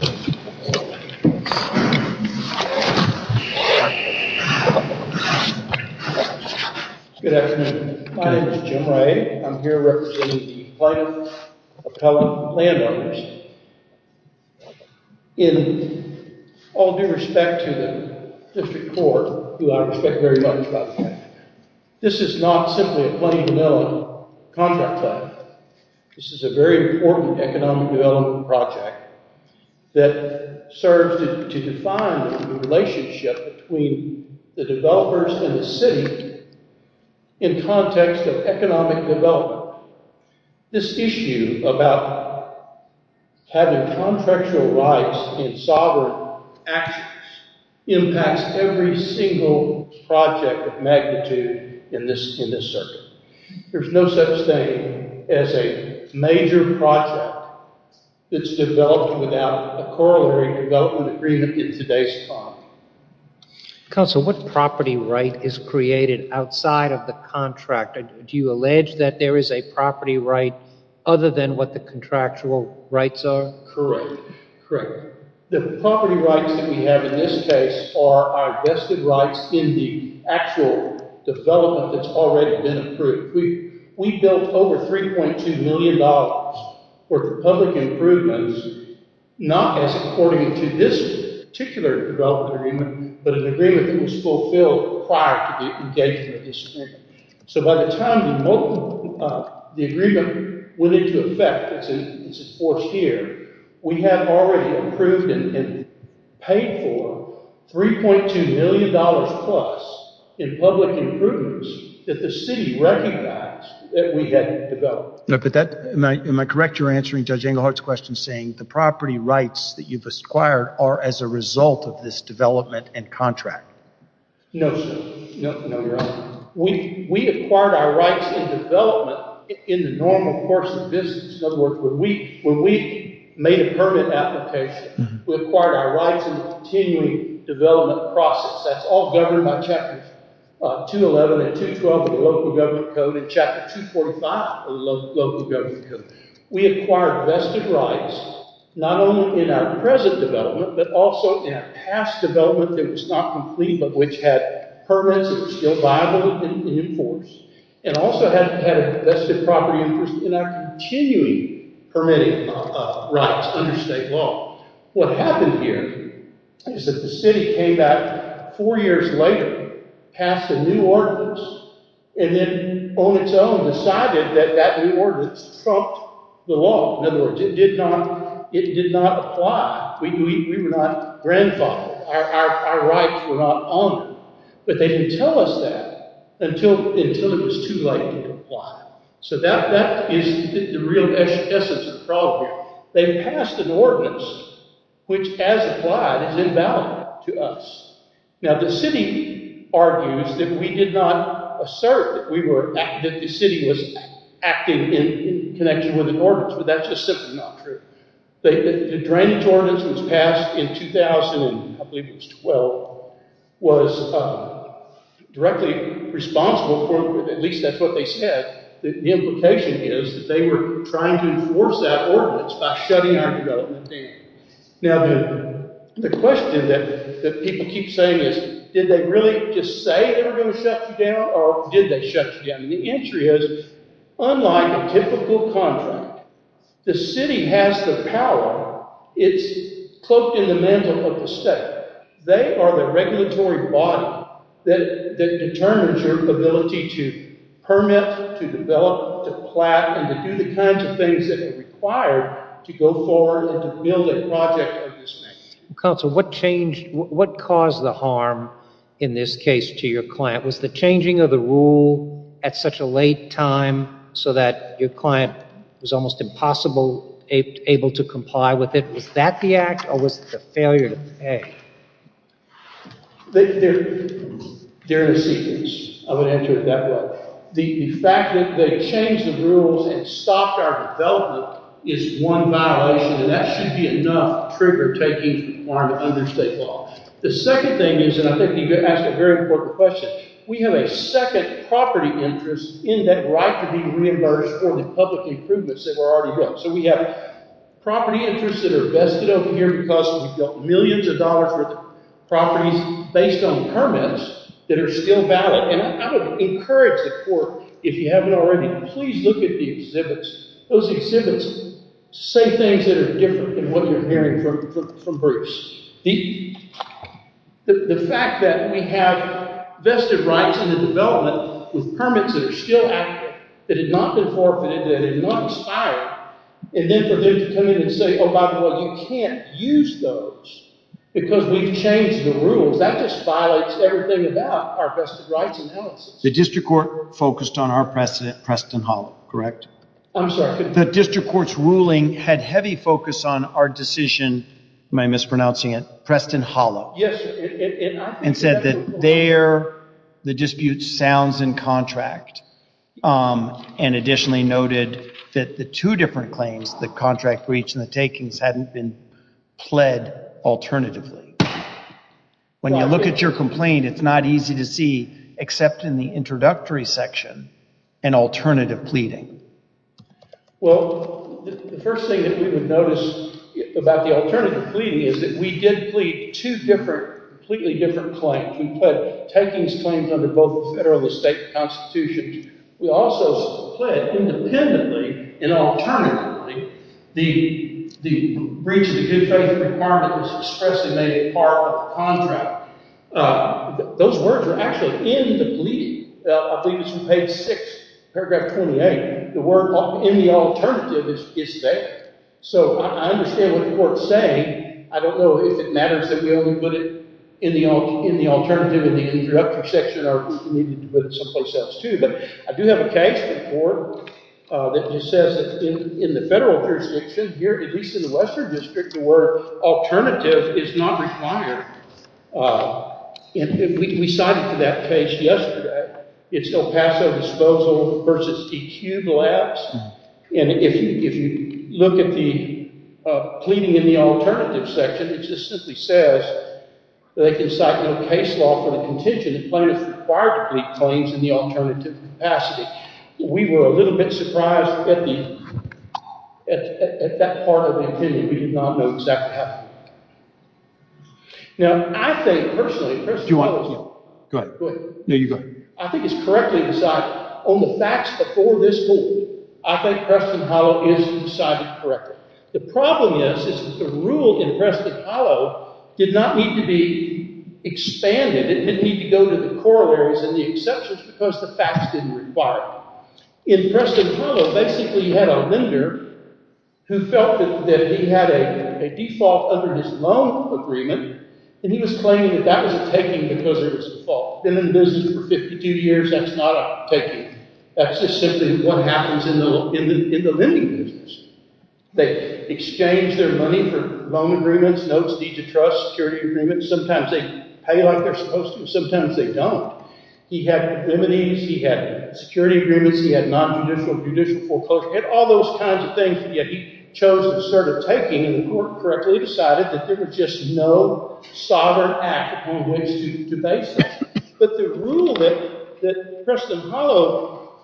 Good afternoon. My name is Jim Ray. I'm here representing the Plano Appellant Landowners. In all due respect to the District Court, who I respect very much by the way, this is not simply a Plano-Mill contract plan. This is a very important economic development project that serves to define the relationship between the developers and the city in context of economic development. This issue about having contractual rights in sovereign actions impacts every single project of magnitude in this circuit. There's no such thing as a major project that's developed without a Corollary Development Agreement in today's time. Counsel, what property right is created outside of the contract? Do you allege that there is a property right other than what the contractual rights are? Correct. The property rights that we have in this case are our vested rights in the actual development that's already been approved. We built over $3.2 million for public improvements, not as according to this particular development agreement, but an agreement that was fulfilled prior to the engagement of the district. So by the time the agreement went into effect, we had already approved and paid for $3.2 million plus in public improvements that the city recognized that we had developed. Am I correct in answering Judge Englehart's question saying the property rights that you've acquired are as a result of this development and contract? No, sir. No, Your Honor. We acquired our rights in development in the normal course of business. In other words, when we made a permit application, we acquired our rights in the continuing development process. That's all governed by Chapter 211 and 212 of the Local Government Code and Chapter 245 of the Local Government Code. We acquired vested rights not only in our present development, but also in a past development that was not complete, but which had permits that were still viable and in force, and also had a vested property interest in our continuing permitting rights under state law. What happened here is that the city came back four years later, passed a new ordinance, and then on its own decided that that new ordinance trumped the law. In other words, it did not apply. We were not grandfathered. Our rights were not honored. But they didn't tell us that until it was too late to apply. So that is the real essence of the problem here. They passed an ordinance which, as applied, is invalid to us. Now, the city argues that we did not assert that the city was acting in connection with an ordinance, but that's just simply not true. The drainage ordinance that was passed in 2000, I believe it was 2012, was directly responsible for, at least that's what they said, the implication is that they were trying to enforce that ordinance by shutting our development down. Now, the question that people keep saying is, did they really just say they were going to shut you down, or did they shut you down? The answer is, unlike a typical contract, the city has the power. It's cloaked in the mantle of the state. They are the regulatory body that determines your ability to permit, to develop, to plant, and to do the kinds of things that are required to go forward and to build a project of this magnitude. Counsel, what caused the harm, in this case, to your client? Was the changing of the rule at such a late time so that your client was almost impossible able to comply with it? Was that the act, or was it a failure to pay? They're in a sequence. I'm going to answer it that way. The fact that they changed the rules and stopped our development is one violation, and that should be enough trigger-taking under state law. The second thing is, and I think you asked a very important question, we have a second property interest in that right to be reimbursed for the public improvements that were already built. So we have property interests that are vested over here because we built millions of dollars worth of properties based on permits that are still valid. And I would encourage the court, if you haven't already, please look at the exhibits. Those exhibits say things that are different than what you're hearing from Bruce. The fact that we have vested rights in the development with permits that are still active, that have not been forfeited, that have not expired, and then for them to come in and say, oh, by the way, you can't use those because we've changed the rules, that just violates everything about our vested rights analysis. The district court focused on our precedent, Preston Hollow, correct? I'm sorry. The district court's ruling had heavy focus on our decision, am I mispronouncing it, Preston Hollow. Yes. And said that there, the dispute sounds in contract, and additionally noted that the two different claims, the contract breach and the takings, hadn't been pled alternatively. When you look at your complaint, it's not easy to see, except in the introductory section, an alternative pleading. Well, the first thing that we would notice about the alternative pleading is that we did plead two different, completely different claims. We pled takings claims under both the federal and the state constitutions. We also pled independently and alternatively. The breach of the good faith requirement was expressly made a part of the contract. Those words were actually in the pleading. I believe it's from page 6, paragraph 28. The word in the alternative is there. So I understand what the court's saying. I don't know if it matters that we only put it in the alternative in the introductory section or if we needed to put it someplace else, too. But I do have a case before that just says that in the federal jurisdiction, here at least in the western district, the word alternative is not required. We cited that case yesterday. It's El Paso Disposal v. EQ Labs. And if you look at the pleading in the alternative section, it just simply says that they can cite no case law for the contention that plaintiffs require to plead claims in the alternative capacity. We were a little bit surprised at that part of the opinion. We did not know exactly how to do that. Now, I think personally – Do you want to? Go ahead. No, you go ahead. I think it's correctly decided on the facts before this court. I think Preston Hollow is decided correctly. The problem is that the rule in Preston Hollow did not need to be expanded. It didn't need to go to the corollaries and the exceptions because the facts didn't require it. Now, Preston Hollow basically had a lender who felt that he had a default under his loan agreement, and he was claiming that that was a taking because of his default. Been in the business for 52 years. That's not a taking. That's just simply what happens in the lending business. They exchange their money for loan agreements, notes, deed to trust, security agreements. Sometimes they pay like they're supposed to. Sometimes they don't. He had remedies. He had security agreements. He had nonjudicial judicial foreclosure. He had all those kinds of things that he chose to start a taking, and the court correctly decided that there was just no sovereign act on which to base this. But the rule that Preston Hollow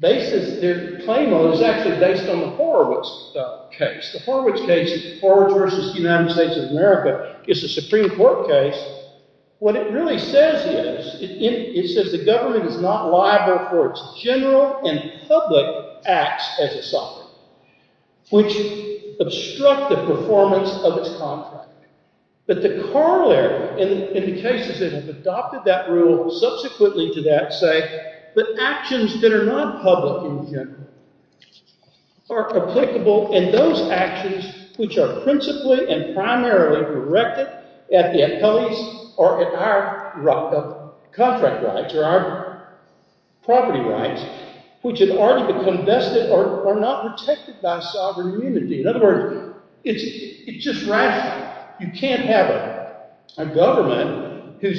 bases their claim on is actually based on the Horowitz case. The Horowitz case, Horowitz v. United States of America, is a Supreme Court case. What it really says is it says the government is not liable for its general and public acts as a sovereign, which obstruct the performance of its contract. But the corollary in the cases that have adopted that rule subsequently to that say that actions that are not public in general are applicable, and those actions which are principally and primarily directed at the employees or at our contract rights or our property rights, which had already become vested, are not protected by sovereign immunity. In other words, it's just rational. You can't have a government who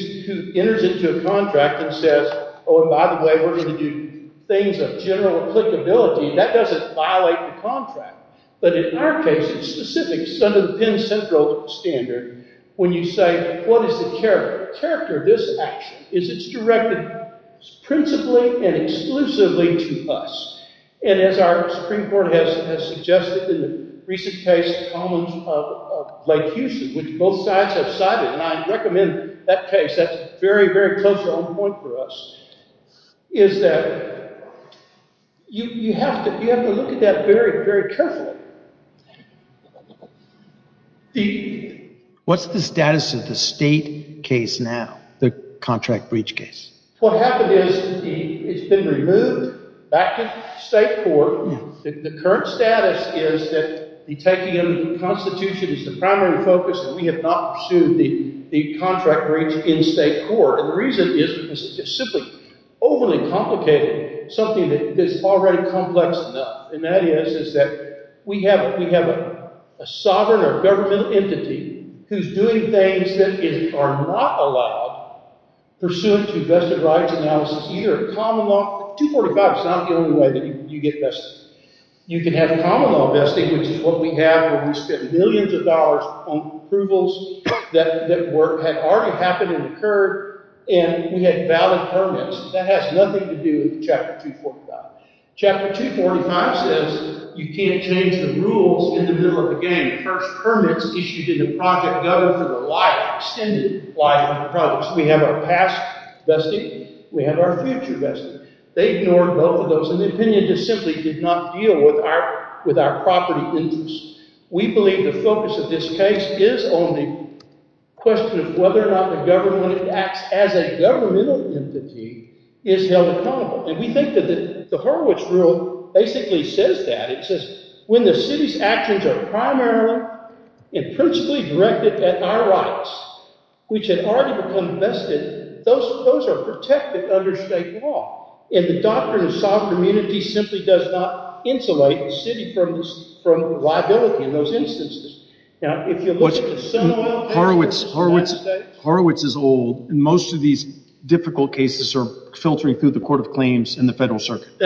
enters into a contract and says, oh, and by the way, we're going to do things of general applicability. That doesn't violate the contract. But in our case, it's specific. It's under the Penn Central standard when you say, what is the character? The character of this action is it's directed principally and exclusively to us. And as our Supreme Court has suggested in the recent case of Lake Houston, which both sides have cited, and I recommend that case. That's very, very close to our point for us, is that you have to look at that very, very carefully. What's the status of the state case now, the contract breach case? What happened is it's been removed back to state court. The current status is that the taking of the Constitution is the primary focus, and we have not pursued the contract breach in state court. And the reason is it's simply overly complicated, something that is already complex enough. And that is that we have a sovereign or governmental entity who's doing things that are not allowed pursuant to vested rights analysis, either common law. 245 is not the only way that you get vested. You can have common law vesting, which is what we have where we spend millions of dollars on approvals that had already happened and occurred, and we had valid permits. That has nothing to do with Chapter 245. Chapter 245 says you can't change the rules in the middle of the game. The first permits issued in the project go for the life, extended life of the project. So we have our past vesting. We have our future vesting. They ignored both of those, and the opinion just simply did not deal with our property interests. We believe the focus of this case is on the question of whether or not the government acts as a governmental entity is held accountable. And we think that the Horowitz rule basically says that. It says when the city's actions are primarily and principally directed at our rights, which had already become vested, those are protected under state law. And the doctrine of sovereign immunity simply does not insulate the city from liability in those instances. Horowitz is old, and most of these difficult cases are filtering through the Court of Claims and the Federal Circuit.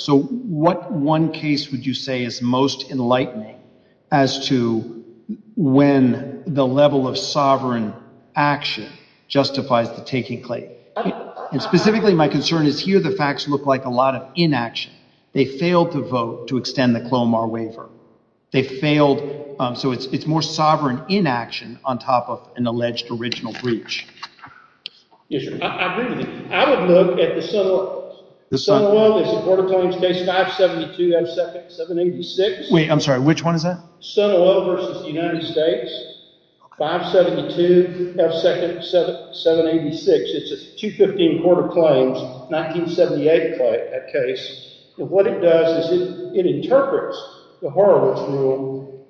So what one case would you say is most enlightening as to when the level of sovereign action justifies the taking claim? And specifically my concern is here the facts look like a lot of inaction. They failed to vote to extend the Clomar waiver. They failed—so it's more sovereign inaction on top of an alleged original breach. Yes, sir. I agree with you. I would look at the Sunil Oil v. the Court of Claims case 572 F. 2nd 786. Wait, I'm sorry. Which one is that? Sunil Oil v. the United States 572 F. 2nd 786. It's a 215 Court of Claims 1978 case. And what it does is it interprets the Horowitz rule,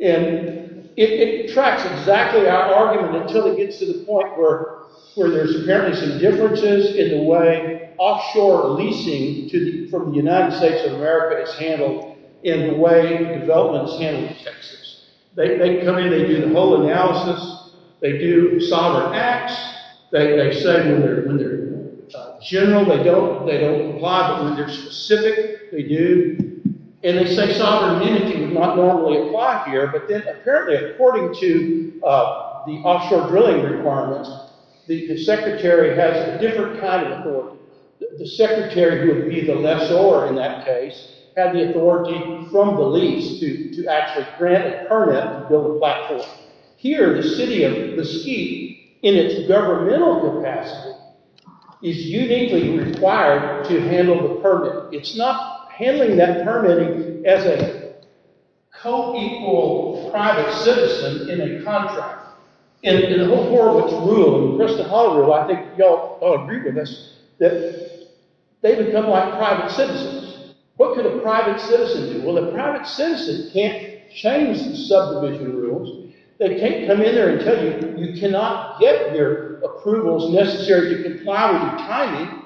and it tracks exactly our argument until it gets to the point where there's apparently some differences in the way offshore leasing from the United States of America is handled in the way development is handled in Texas. They come in. They do the whole analysis. They do sovereign acts. They say when they're general, they don't apply, but when they're specific, they do. And they say sovereign energy would not normally apply here, but then apparently according to the offshore drilling requirements, the secretary has a different kind of authority. The secretary would be the lessor in that case, have the authority from the lease to actually grant a permit and build a platform. Here, the city of Mesquite in its governmental capacity is uniquely required to handle the permit. It's not handling that permit as a co-equal private citizen in a contract. In the whole Horowitz rule, the Crystal Hall rule, I think you all agree with this, that they've become like private citizens. What could a private citizen do? Well, a private citizen can't change the subdivision rules. They can't come in there and tell you you cannot get your approvals necessary to comply with your timing.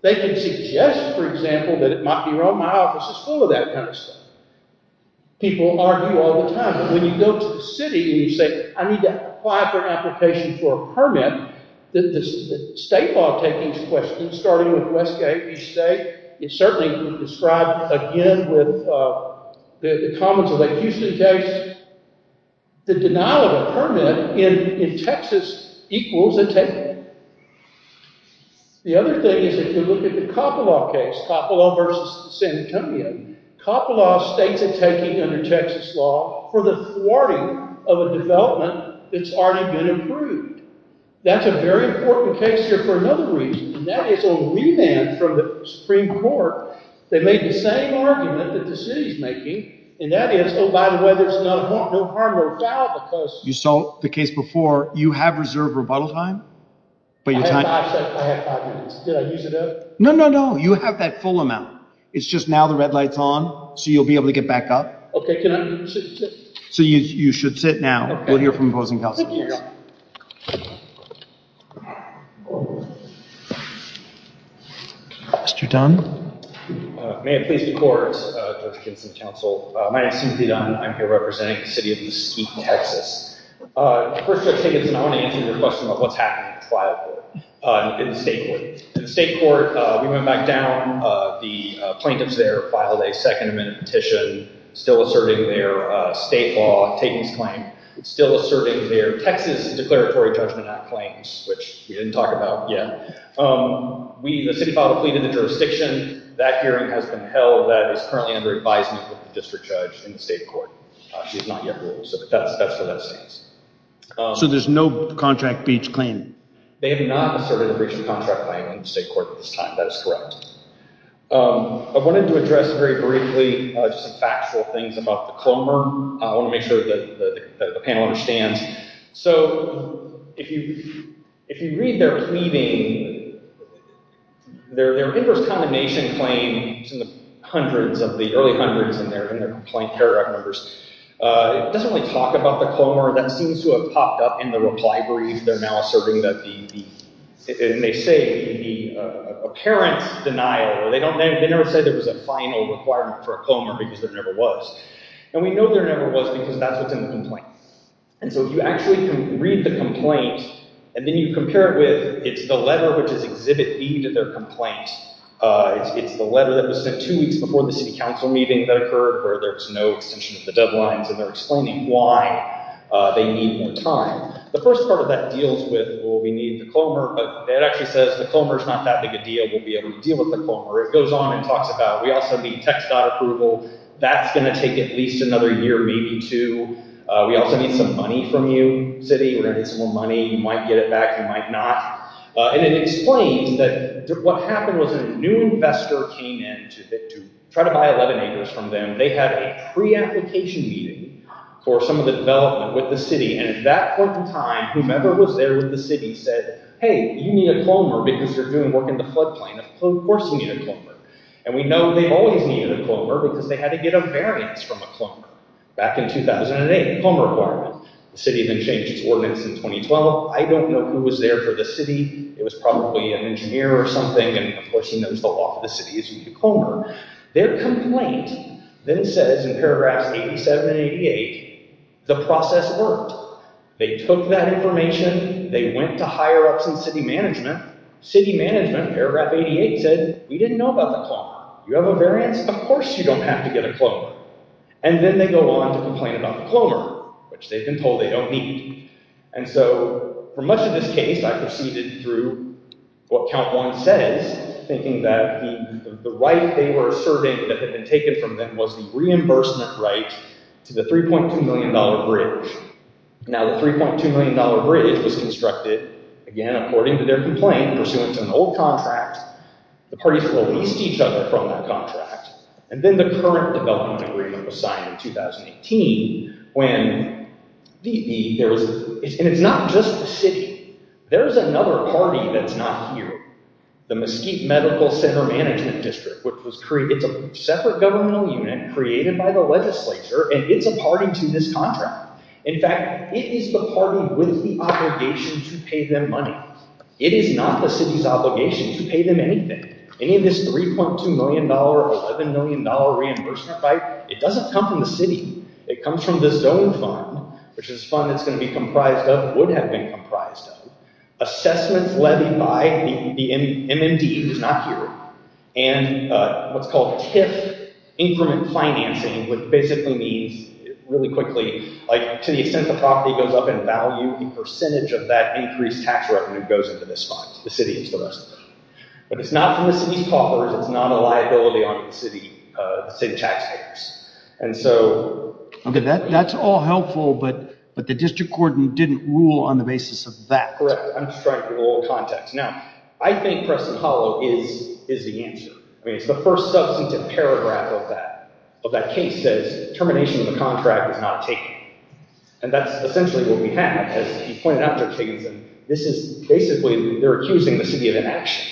They can suggest, for example, that it might be wrong. My office is full of that kind of stuff. People argue all the time. But when you go to the city and you say, I need to apply for an application for a permit, the state law takings questions, starting with Westgate, you say. It's certainly described again with the Commons of Lake Houston case. The denial of a permit in Texas equals a taking. The other thing is if you look at the Coppola case, Coppola versus San Antonio. Coppola states a taking under Texas law for the thwarting of a development that's already been approved. That's a very important case here for another reason, and that is a remand from the Supreme Court. They made the same argument that the city is making, and that is, oh, by the way, there's no harm or foul because— You saw the case before. You have reserved rebuttal time, but your time— I have five minutes. Did I use it up? No, no, no. You have that full amount. It's just now the red light's on, so you'll be able to get back up. Okay. Can I sit? So you should sit now. We'll hear from opposing counsel. Thank you. Mr. Dunn. May it please the court, Judge Kinson, counsel. My name is Timothy Dunn. I'm here representing the city of East Texas. First, Judge Kinson, I want to answer your question about what's happening with the trial court and the state court. The state court, we went back down. The plaintiffs there filed a second amendment petition still asserting their state law takings claim, still asserting their Texas Declaratory Judgment Act claims, which we didn't talk about yet. The city filed a plea to the jurisdiction. That hearing has been held that is currently under advisement of the district judge in the state court. She has not yet ruled, so that's what that says. So there's no contract breach claim? They have not asserted a breach of contract claim in the state court at this time. That is correct. I wanted to address very briefly just some factual things about the CLOMR. I want to make sure that the panel understands. So if you read their pleading, their inverse combination claim in the hundreds, of the early hundreds in their complaint paragraph numbers, it doesn't really talk about the CLOMR. That seems to have popped up in the reply brief. They're now asserting that the—and they say the apparent denial. They never said there was a final requirement for a CLOMR because there never was. And we know there never was because that's what's in the complaint. And so if you actually can read the complaint and then you compare it with— it's the letter which is exhibit B to their complaint. It's the letter that was sent two weeks before the city council meeting that occurred where there's no extension of the deadlines, and they're explaining why they need more time. The first part of that deals with, well, we need the CLOMR, but it actually says the CLOMR is not that big a deal. We'll be able to deal with the CLOMR. It goes on and talks about we also need text dot approval. That's going to take at least another year, maybe two. We also need some money from you, city. We're going to need some more money. You might get it back. You might not. And it explains that what happened was a new investor came in to try to buy 11 acres from them. They had a pre-application meeting for some of the development with the city, and at that point in time, whomever was there with the city said, hey, you need a CLOMR because you're doing work in the floodplain. Of course you need a CLOMR. And we know they always needed a CLOMR because they had to get a variance from a CLOMR. Back in 2008, CLOMR requirement. The city then changed its ordinance in 2012. I don't know who was there for the city. It was probably an engineer or something, and of course he knows the law of the city is you need a CLOMR. Their complaint then says in paragraphs 87 and 88, the process worked. They took that information. They went to higher ups in city management. City management, paragraph 88 said, we didn't know about the CLOMR. Do you have a variance? Of course you don't have to get a CLOMR. And then they go on to complain about the CLOMR, which they've been told they don't need. And so for much of this case, I proceeded through what count one says, thinking that the right they were serving that had been taken from them was the reimbursement right to the $3.2 million bridge. Now the $3.2 million bridge was constructed, again, according to their complaint, pursuant to an old contract. The parties released each other from that contract. And then the current development agreement was signed in 2018 and it's not just the city. There's another party that's not here. The Mesquite Medical Center Management District. It's a separate governmental unit created by the legislature, and it's a party to this contract. In fact, it is the party with the obligation to pay them money. It is not the city's obligation to pay them anything. Any of this $3.2 million, $11 million reimbursement right, it doesn't come from the city. It comes from the zone fund, which is a fund that's going to be comprised of, would have been comprised of. Assessments levied by the MMD, who's not here, and what's called TIF increment financing, which basically means, really quickly, to the extent the property goes up in value, the percentage of that increased tax revenue goes into this fund. The city is the rest of it. But it's not from the city's coffers. It's not a liability on the city taxpayers. Okay, that's all helpful, but the district court didn't rule on the basis of that. Correct. I'm just trying to give a little context. Now, I think Preston Hollow is the answer. I mean, it's the first substantive paragraph of that case that says, termination of the contract is not taken. And that's essentially what we have. As you pointed out, Judge Higginson, this is basically they're accusing the city of inaction.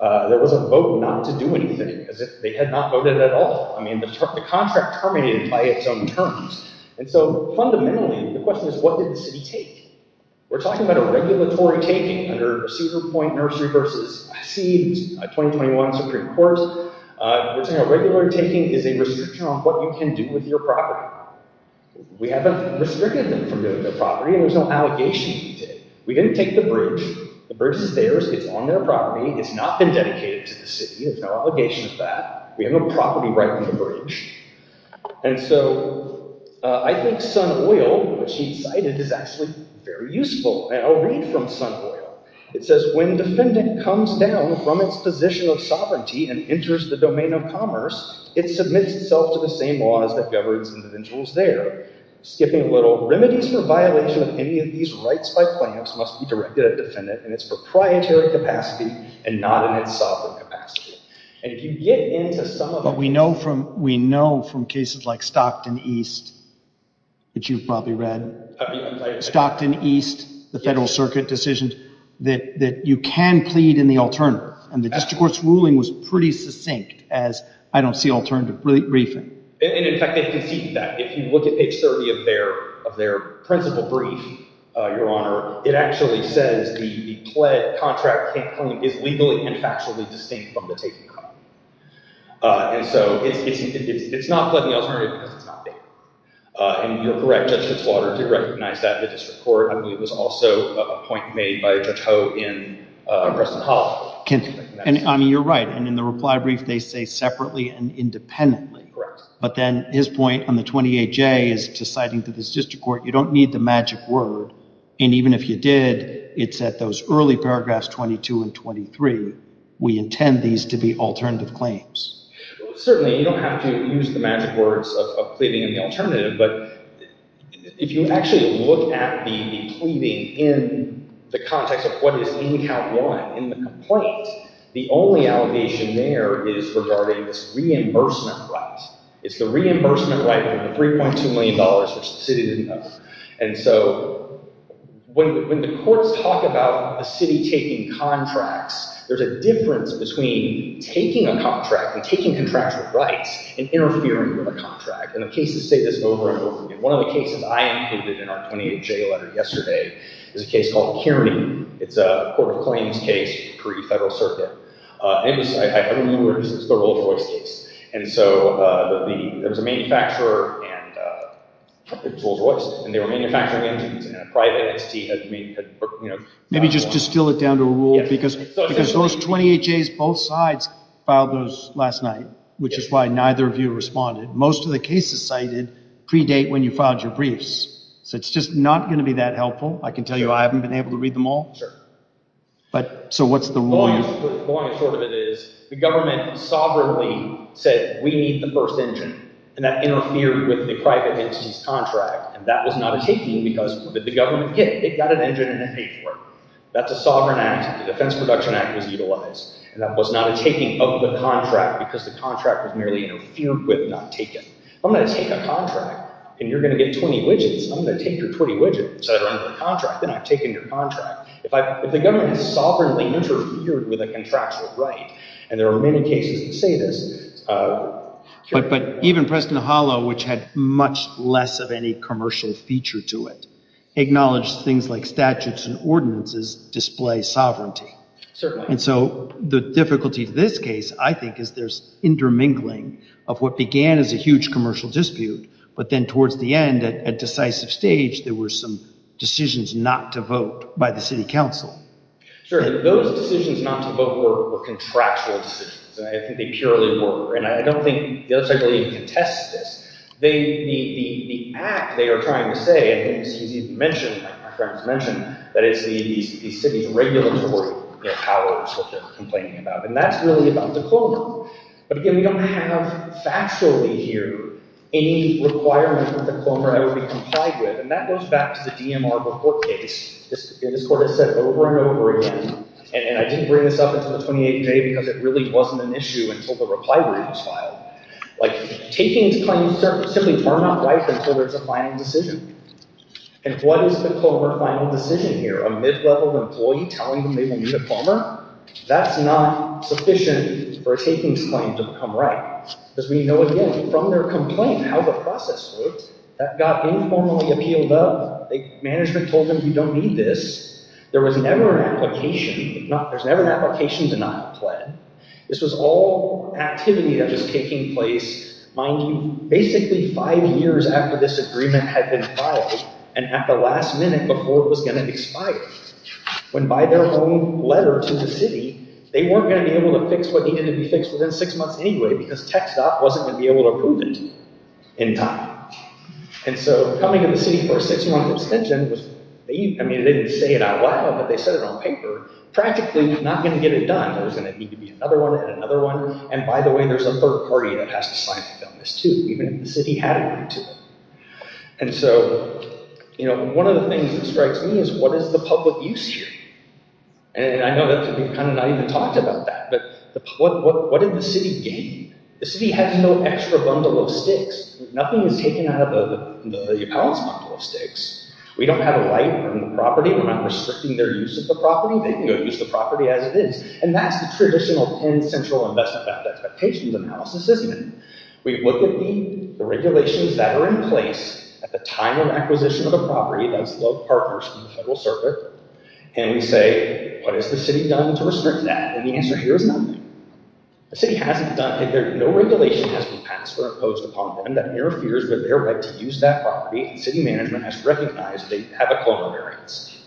There was a vote not to do anything. They had not voted at all. I mean, the contract terminated by its own terms. And so, fundamentally, the question is, what did the city take? We're talking about a regulatory taking under Cedar Point Nursery v. SEED, a 2021 Supreme Court. We're saying a regulatory taking is a restriction on what you can do with your property. We haven't restricted them from doing their property, and there's no allegation to it. We didn't take the bridge. The bridge is theirs. It's on their property. It's not been dedicated to the city. There's no obligation to that. We have a property right on the bridge. And so, I think Sun Oil, which he cited, is actually very useful. And I'll read from Sun Oil. It says, when defendant comes down from its position of sovereignty and enters the domain of commerce, it submits itself to the same laws that govern its individuals there. Skipping a little. Remedies for violation of any of these rights by clamps must be directed at defendant in its proprietary capacity and not in its sovereign capacity. But we know from cases like Stockton East, which you've probably read, Stockton East, the Federal Circuit decision, that you can plead in the alternative. And the district court's ruling was pretty succinct as I don't see alternative briefing. And, in fact, they conceded that. If you look at page 30 of their principal brief, Your Honor, it actually says the pled contract can't claim is legally and factually distinct from the taken contract. And so, it's not pled in the alternative because it's not there. And you're correct, Judge Fitzwater did recognize that. The district court, I believe, was also a point made by Judge Ho in Preston Hall. And, I mean, you're right. And in the reply brief, they say separately and independently. Correct. But then his point on the 28J is to citing to the district court, you don't need the magic word. And even if you did, it's at those early paragraphs 22 and 23. We intend these to be alternative claims. Certainly, you don't have to use the magic words of pleading in the alternative. But if you actually look at the pleading in the context of what is in count one, in the complaint, the only allegation there is regarding this reimbursement right. It's the reimbursement right of $3.2 million, which the city didn't know. And so when the courts talk about a city taking contracts, there's a difference between taking a contract and taking contracts with rights and interfering with a contract. And the cases say this over and over again. One of the cases I included in our 28J letter yesterday is a case called Kearney. It's a court of claims case, pre-Federal Circuit. I don't know where this is, the Rolls-Royce case. And so there was a manufacturer, and it was Rolls-Royce, and they were manufacturing engines, and a private entity had, you know. Maybe just distill it down to a rule, because those 28Js, both sides, filed those last night, which is why neither of you responded. Most of the cases cited predate when you filed your briefs. So it's just not going to be that helpful. I can tell you I haven't been able to read them all. But, so what's the rule? The long and short of it is the government sovereignly said we need the first engine. And that interfered with the private entity's contract. And that was not a taking because what did the government get? It got an engine and it paid for it. That's a sovereign act. The Defense Production Act was utilized. And that was not a taking of the contract because the contract was merely interfered with, not taken. If I'm going to take a contract, and you're going to get 20 widgets, I'm going to take your 20 widgets that are under the contract, then I've taken your contract. If the government has sovereignly interfered with a contractual right, and there are many cases that say this, But even Preston Hollow, which had much less of any commercial feature to it, acknowledged things like statutes and ordinances display sovereignty. And so the difficulty to this case, I think, is there's intermingling of what began as a huge commercial dispute, but then towards the end, at a decisive stage, there were some decisions not to vote by the city council. Those decisions not to vote were contractual decisions. I think they purely were. And I don't think the other side really even contests this. The act they are trying to say, and it's easy to mention, like my friends mentioned, that it's the city's regulatory powers that they're complaining about. And that's really about the CLOMR. But again, we don't have factually here any requirement that the CLOMR ever be complied with. And that goes back to the DMR before case. This court has said over and over again, and I didn't bring this up until the 28th day because it really wasn't an issue until the reply was filed. Like, takings claims simply are not right until there's a final decision. And what is the CLOMR final decision here? A mid-level employee telling them they will need a CLOMR? That's not sufficient for a takings claim to become right. Because we know, again, from their complaint, how the process worked. That got informally appealed up. Management told them, you don't need this. There was never an application. There's never an application denial plan. This was all activity that was taking place, mind you, basically five years after this agreement had been filed and at the last minute before it was gonna expire. When by their own letter to the city, they weren't gonna be able to fix what needed to be fixed within six months anyway because tech staff wasn't gonna be able to approve it in time. And so coming to the city for a six-month extension, I mean, they didn't say it out loud, but they said it on paper, practically not gonna get it done. There's gonna need to be another one and another one. And by the way, there's a third party that has to sign it on this too, even if the city had agreed to it. And so one of the things that strikes me is what is the public use here? And I know that we've kind of not even talked about that, but what did the city gain? The city has no extra bundle of sticks. Nothing is taken out of the appellant's bundle of sticks. We don't have a light on the property. We're not restricting their use of the property. They can go use the property as it is. And that's the traditional Penn Central Investment Bank expectations analysis, isn't it? We look at the regulations that are in place at the time of acquisition of the property, that's low partners from the federal circuit, and we say, what has the city done to restrict that? And the answer here is nothing. The city hasn't done it. No regulation has been passed or imposed upon them that interferes with their right to use that property, and city management has to recognize they have a clone of their own city.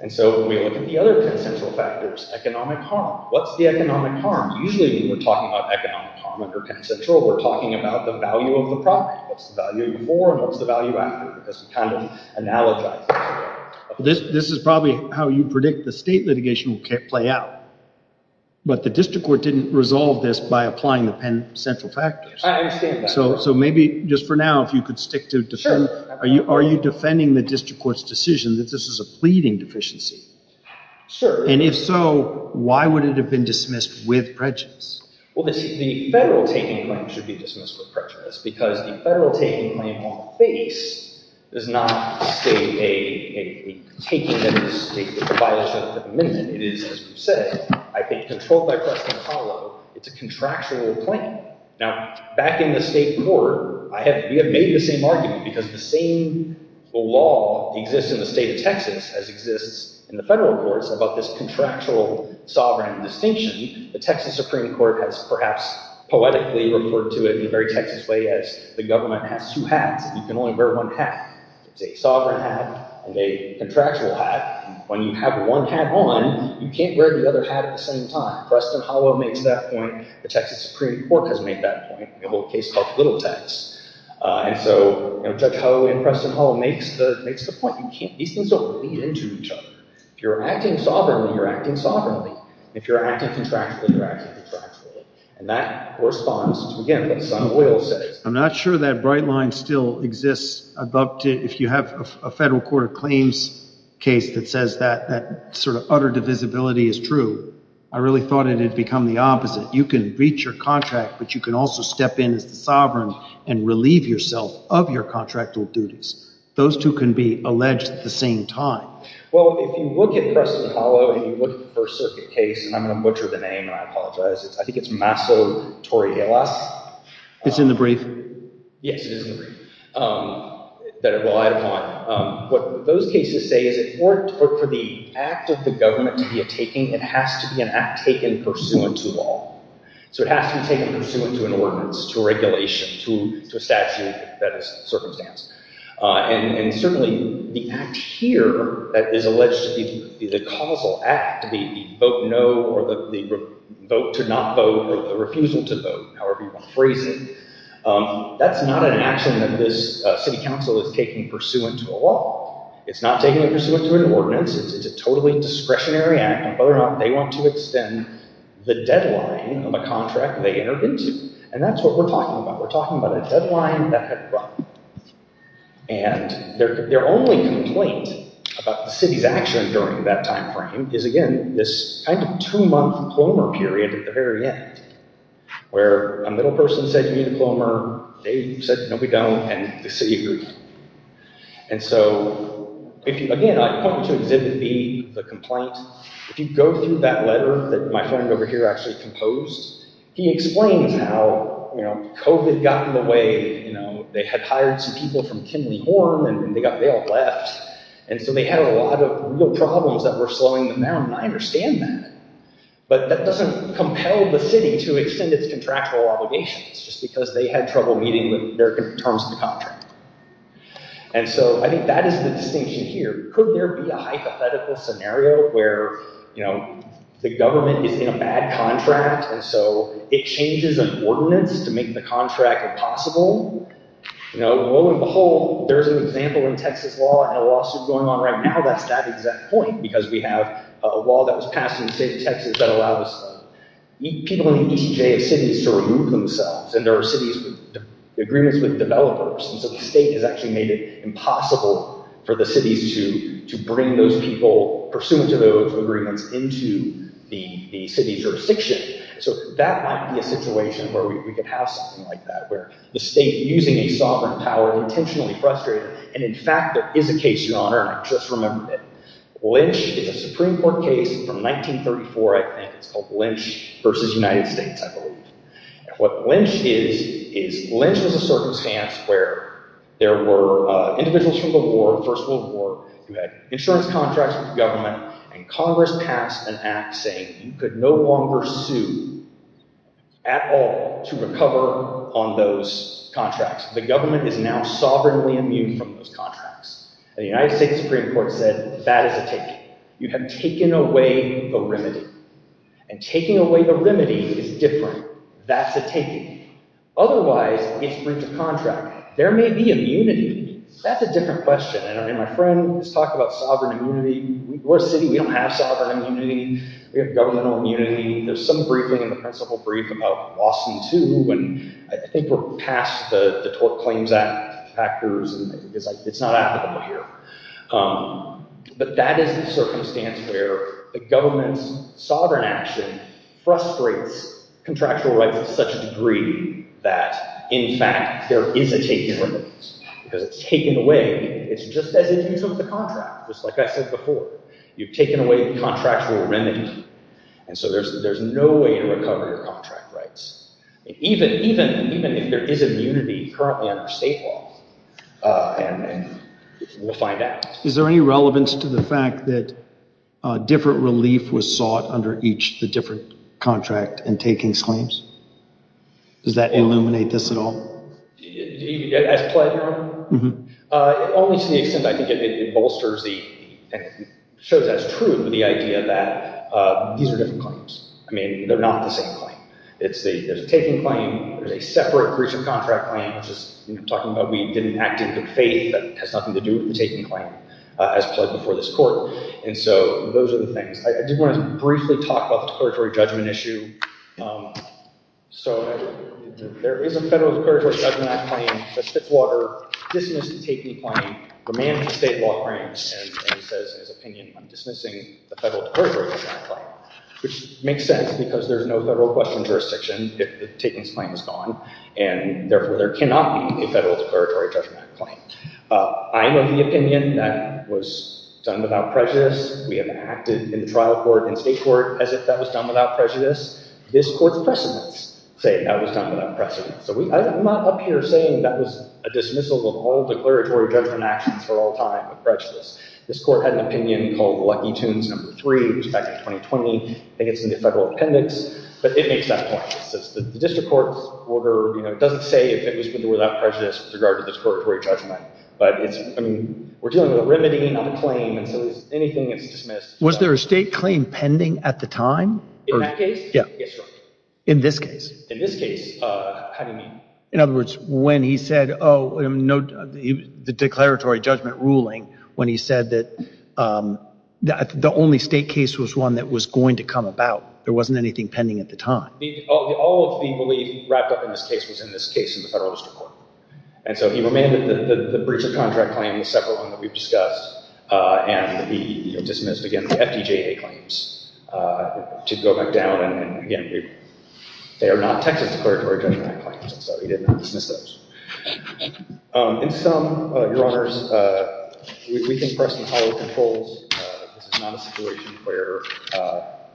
And so we look at the other Penn Central factors, economic harm. What's the economic harm? Usually when we're talking about economic harm under Penn Central, we're talking about the value of the property. What's the value before and what's the value after? Because we kind of analogize that. This is probably how you predict the state litigation will play out, but the district court didn't resolve this by applying the Penn Central factors. I understand that. So maybe just for now, if you could stick to defend, are you defending the district court's decision that this is a pleading deficiency? And if so, why would it have been dismissed with prejudice? Well, the federal taking claim should be dismissed with prejudice because the federal taking claim on the face does not state a taking of the state with a violation of the amendment. It is, as you said, I think, controlled by President Harlow. It's a contractual claim. Now, back in the state court, we have made the same argument because the same law exists in the state of Texas as exists in the federal courts about this contractual sovereign distinction. The Texas Supreme Court has perhaps poetically referred to it in a very Texas way as the government has two hats and you can only wear one hat. It's a sovereign hat and a contractual hat. When you have one hat on, you can't wear the other hat at the same time. Preston Harlow makes that point. The Texas Supreme Court has made that point in a whole case called Little Tex. And so Judge Harlow and Preston Harlow makes the point. These things don't lead into each other. If you're acting sovereignly, you're acting sovereignly. If you're acting contractually, you're acting contractually. And that corresponds to, again, what Son of Oil says. I'm not sure that bright line still exists. If you have a federal court of claims case that says that sort of utter divisibility is true, I really thought it had become the opposite. You can breach your contract, but you can also step in as the sovereign and relieve yourself of your contractual duties. Those two can be alleged at the same time. Well, if you look at Preston Harlow and you look at the First Circuit case, and I'm going to butcher the name, and I apologize. I think it's Maso Torielas. It's in the brief. Yes, it is in the brief that it relied upon. What those cases say is that for the act of the government to be a taking, it has to be an act taken pursuant to law. So it has to be taken pursuant to an ordinance, to a regulation, to a statute that is circumstantial. And certainly the act here that is alleged to be the causal act, the vote no or the vote to not vote or the refusal to vote, however you want to phrase it, that's not an action that this city council is taking pursuant to a law. It's not taking it pursuant to an ordinance. It's a totally discretionary act. And whether or not they want to extend the deadline of a contract they entered into. And that's what we're talking about. We're talking about a deadline that had run. And their only complaint about the city's action during that time frame is, again, this kind of two-month plomer period at the very end where a middle person said, you need a plomer. They said, no, we don't. And the city agreed. And so, again, I point to exhibit B, the complaint. If you go through that letter that my friend over here actually composed, he explains how COVID got in the way. They had hired some people from Kinley Horn and they got bailed left. And so they had a lot of real problems that were slowing them down, and I understand that. But that doesn't compel the city to extend its contractual obligations just because they had trouble meeting their terms of the contract. And so I think that is the distinction here. Could there be a hypothetical scenario where the government is in a bad contract and so it changes an ordinance to make the contract impossible? You know, lo and behold, there's an example in Texas law and a lawsuit going on right now that's that exact point because we have a law that was passed in the state of Texas that allowed people in the ECJ of cities to remove themselves. And there are cities with agreements with developers. And so the state has actually made it impossible for the cities to bring those people pursuant to those agreements into the city's jurisdiction. So that might be a situation where we could have something like that, where the state, using a sovereign power, intentionally frustrated. And in fact, there is a case, Your Honor, and I just remembered it. Lynch is a Supreme Court case from 1934, I think. It's called Lynch versus United States, I believe. What Lynch is, is Lynch was a circumstance where there were individuals from the war, the First World War, who had insurance contracts with the government and Congress passed an act saying you could no longer sue at all to recover on those contracts. The government is now sovereignly immune from those contracts. And the United States Supreme Court said, that is a taking. You have taken away the remedy. And taking away the remedy is different. That's a taking. Otherwise, it's breach of contract. There may be immunity. That's a different question. I mean, my friend was talking about sovereign immunity. We're a city, we don't have sovereign immunity. We have governmental immunity. There's some briefing in the principal brief about Lawson too, and I think we're past the claims act factors. It's not applicable here. But that is the circumstance where the government's sovereign action frustrates contractual rights to such a degree that, in fact, there is a taking. Because it's taken away. It's just as it is with the contract. Just like I said before. You've taken away the contractual remedy. And so there's no way to recover your contract rights. Even if there is immunity currently under state law. And we'll find out. Is there any relevance to the fact that different relief was sought under each different contract in taking claims? Does that illuminate this at all? As pledged? Mm-hmm. Only to the extent I think it bolsters the... shows as true the idea that these are different claims. I mean, they're not the same claim. There's a taking claim, there's a separate breach of contract claim, which is talking about we didn't act in good faith that has nothing to do with the taking claim as pledged before this court. And so those are the things. I did want to briefly talk about the declaratory judgment issue. So there is a federal declaratory judgment claim that Fitzwater dismissed the taking claim the man of the state law claims. And he says in his opinion, I'm dismissing the federal declaratory judgment claim. Which makes sense, because there's no federal question jurisdiction if the taking claim is gone. And therefore there cannot be a federal declaratory judgment claim. I am of the opinion that was done without prejudice. We have acted in trial court and state court as if that was done without prejudice. This court's precedents say that was done without prejudice. I'm not up here saying that was a dismissal of all declaratory judgment actions for all time of prejudice. This court had an opinion called Lucky Tunes No. 3. It was back in 2020. I think it's in the federal appendix. But it makes that point. The district court's order doesn't say if it was done without prejudice with regard to the declaratory judgment. But we're dealing with a remedy, not a claim. And so anything that's dismissed... Was there a state claim pending at the time? In that case? Yes, sir. In this case? In this case. How do you mean? In other words, when he said, oh, the declaratory judgment ruling, when he said that the only state case was one that was going to come about, there wasn't anything pending at the time. All of the belief wrapped up in this case was in this case in the federal district court. And so he remanded the breach of contract claim, the separate one that we've discussed, and he dismissed, again, the FDJA claims to go back down. And again, they are not Texas declaratory judgment claims. So he did not dismiss those. In sum, Your Honors, we think Preston followed controls. This is not a situation where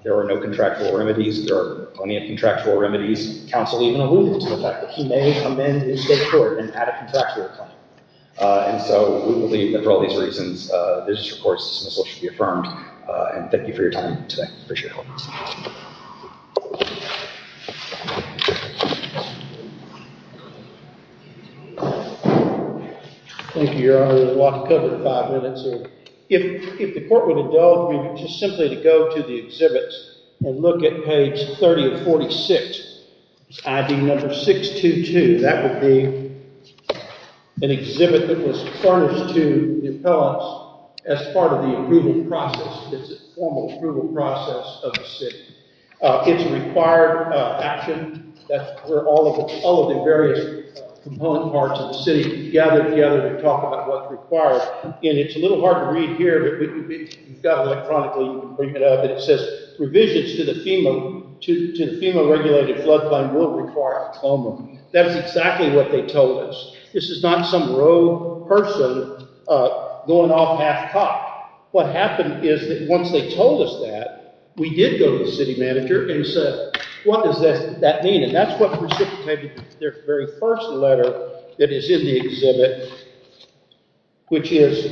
there are no contractual remedies. There are plenty of contractual remedies. Counsel even alluded to the fact that he may amend his state court and add a contractual claim. And so we believe that for all these reasons, the district court's dismissal should be affirmed. And thank you for your time today. Appreciate it. Thank you, Your Honor. We'll walk and cover five minutes here. If the court would indulge me just simply to go to the exhibits and look at page 30 of 46, ID number 622, that would be an exhibit that was furnished to the appellants as part of the approval process. It's a formal approval process of the city. It's a required action. That's where all of the various component parts of the city gather together to talk about what's required. And it's a little hard to read here, but if you've got it electronically, you can bring it up. It says, Revisions to the FEMA-regulated flood fund will require a CLOMA. That's exactly what they told us. This is not some rogue person going off half-cocked. What happened is that once they told us that, we did go to the city manager and said, What does that mean? And that's what precipitated their very first letter that is in the exhibit, which is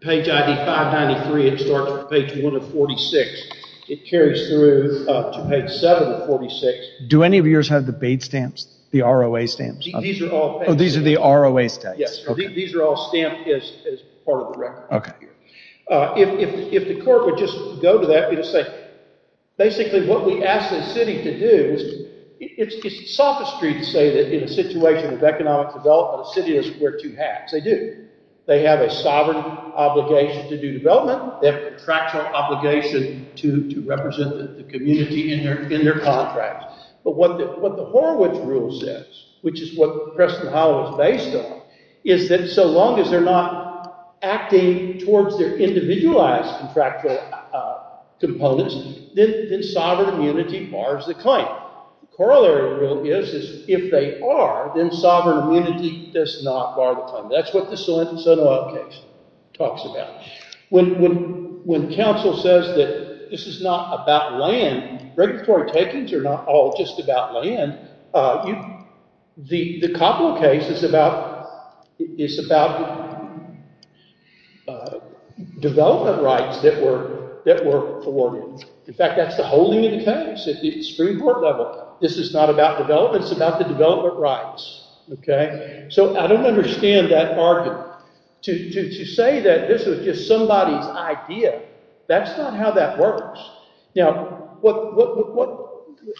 page ID 593. It starts from page 1 of 46. It carries through to page 7 of 46. Do any of yours have the BAID stamps? The ROA stamps? Oh, these are the ROA stamps. Yes, these are all stamped as part of the record. If the court would just go to that, it would say, Basically what we asked the city to do, it's sophistry to say that in a situation of economic development, a city is wear two hats. They do. They have a sovereign obligation to do development. They have a contractual obligation to represent the community in their contracts. But what the Horowitz rule says, which is what Preston Howell is based on, is that so long as they're not acting towards their individualized contractual components, then sovereign immunity bars the claim. The corollary rule is, if they are, then sovereign immunity does not bar the claim. That's what the Salento case talks about. When counsel says that this is not about land, regulatory takings are not all just about land, the Coppola case is about development rights that were afforded. In fact, that's the whole name of the case. It's three-part level. This is not about development. It's about the development rights. So I don't understand that argument. To say that this was just somebody's idea, that's not how that works. Now, what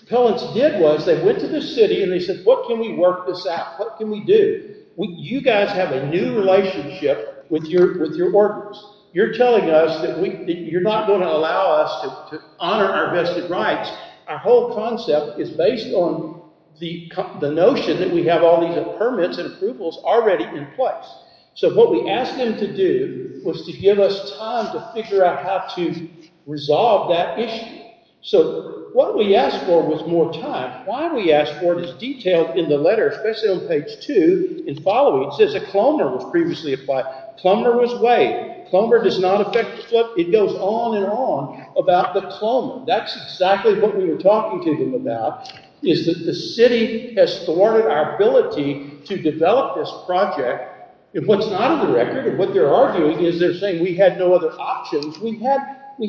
Collins did was they went to the city and they said, what can we work this out? What can we do? You guys have a new relationship with your workers. You're telling us that you're not going to allow us to honor our vested rights. Our whole concept is based on the notion that we have all these permits and approvals already in place. So what we asked them to do was to give us time to figure out how to resolve that issue. So what we asked for was more time. Why we asked for it is detailed in the letter, especially on page two and following. It says a cloner was previously applied. A cloner was waived. A cloner does not affect the flip. It goes on and on about the cloner. That's exactly what we were talking to them about, is that the city has thwarted our ability to develop this project. And what's not on the record, and what they're arguing, is they're saying we had no other options. We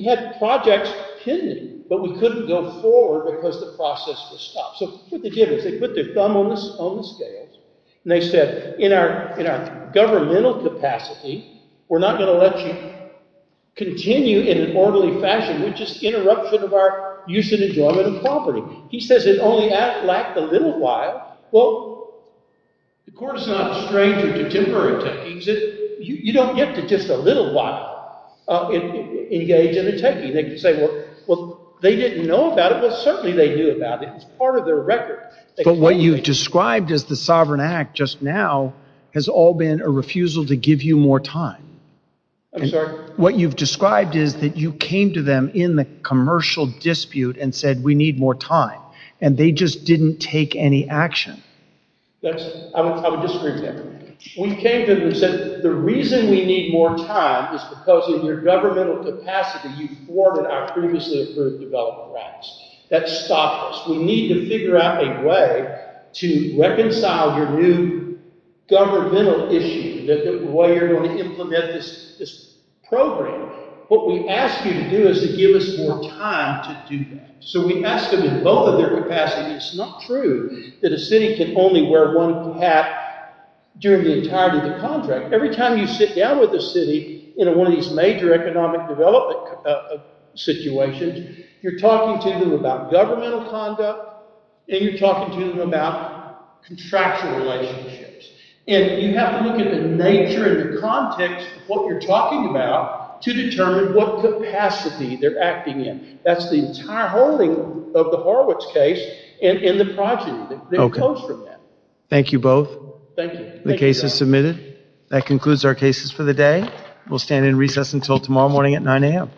had projects pending, but we couldn't go forward because the process was stopped. So what they did was they put their thumb on the scales, and they said, in our governmental capacity, we're not going to let you continue in an orderly fashion. We'd just interrupt sort of our use and enjoyment of property. He says it only lacked a little while. Well, the court is not estranged from contemporary techies. You don't get to just a little while engaged in a techie. They could say, well, they didn't know about it, but certainly they knew about it. It's part of their record. But what you've described as the Sovereign Act just now has all been a refusal to give you more time. I'm sorry? What you've described is that you came to them in the commercial dispute and said, we need more time. And they just didn't take any action. I would disagree with that. We came to them and said, the reason we need more time is because in your governmental capacity, you thwarted our previously-approved development rights. That stopped us. We need to figure out a way to reconcile your new governmental issue, the way you're going to implement this program. What we ask you to do is to give us more time to do that. So we ask them in both of their capacities. It's not true that a city can only wear one hat during the entirety of the contract. Every time you sit down with a city in one of these major economic development situations, you're talking to them about governmental conduct, and you're talking to them about contractual relationships. And you have to look at the nature and the context of what you're talking about to determine what capacity they're acting in. That's the entire holding of the Horwitz case and the project that comes from that. Thank you both. Thank you. The case is submitted. That concludes our cases for the day. We'll stand in recess until tomorrow morning at 9 a.m.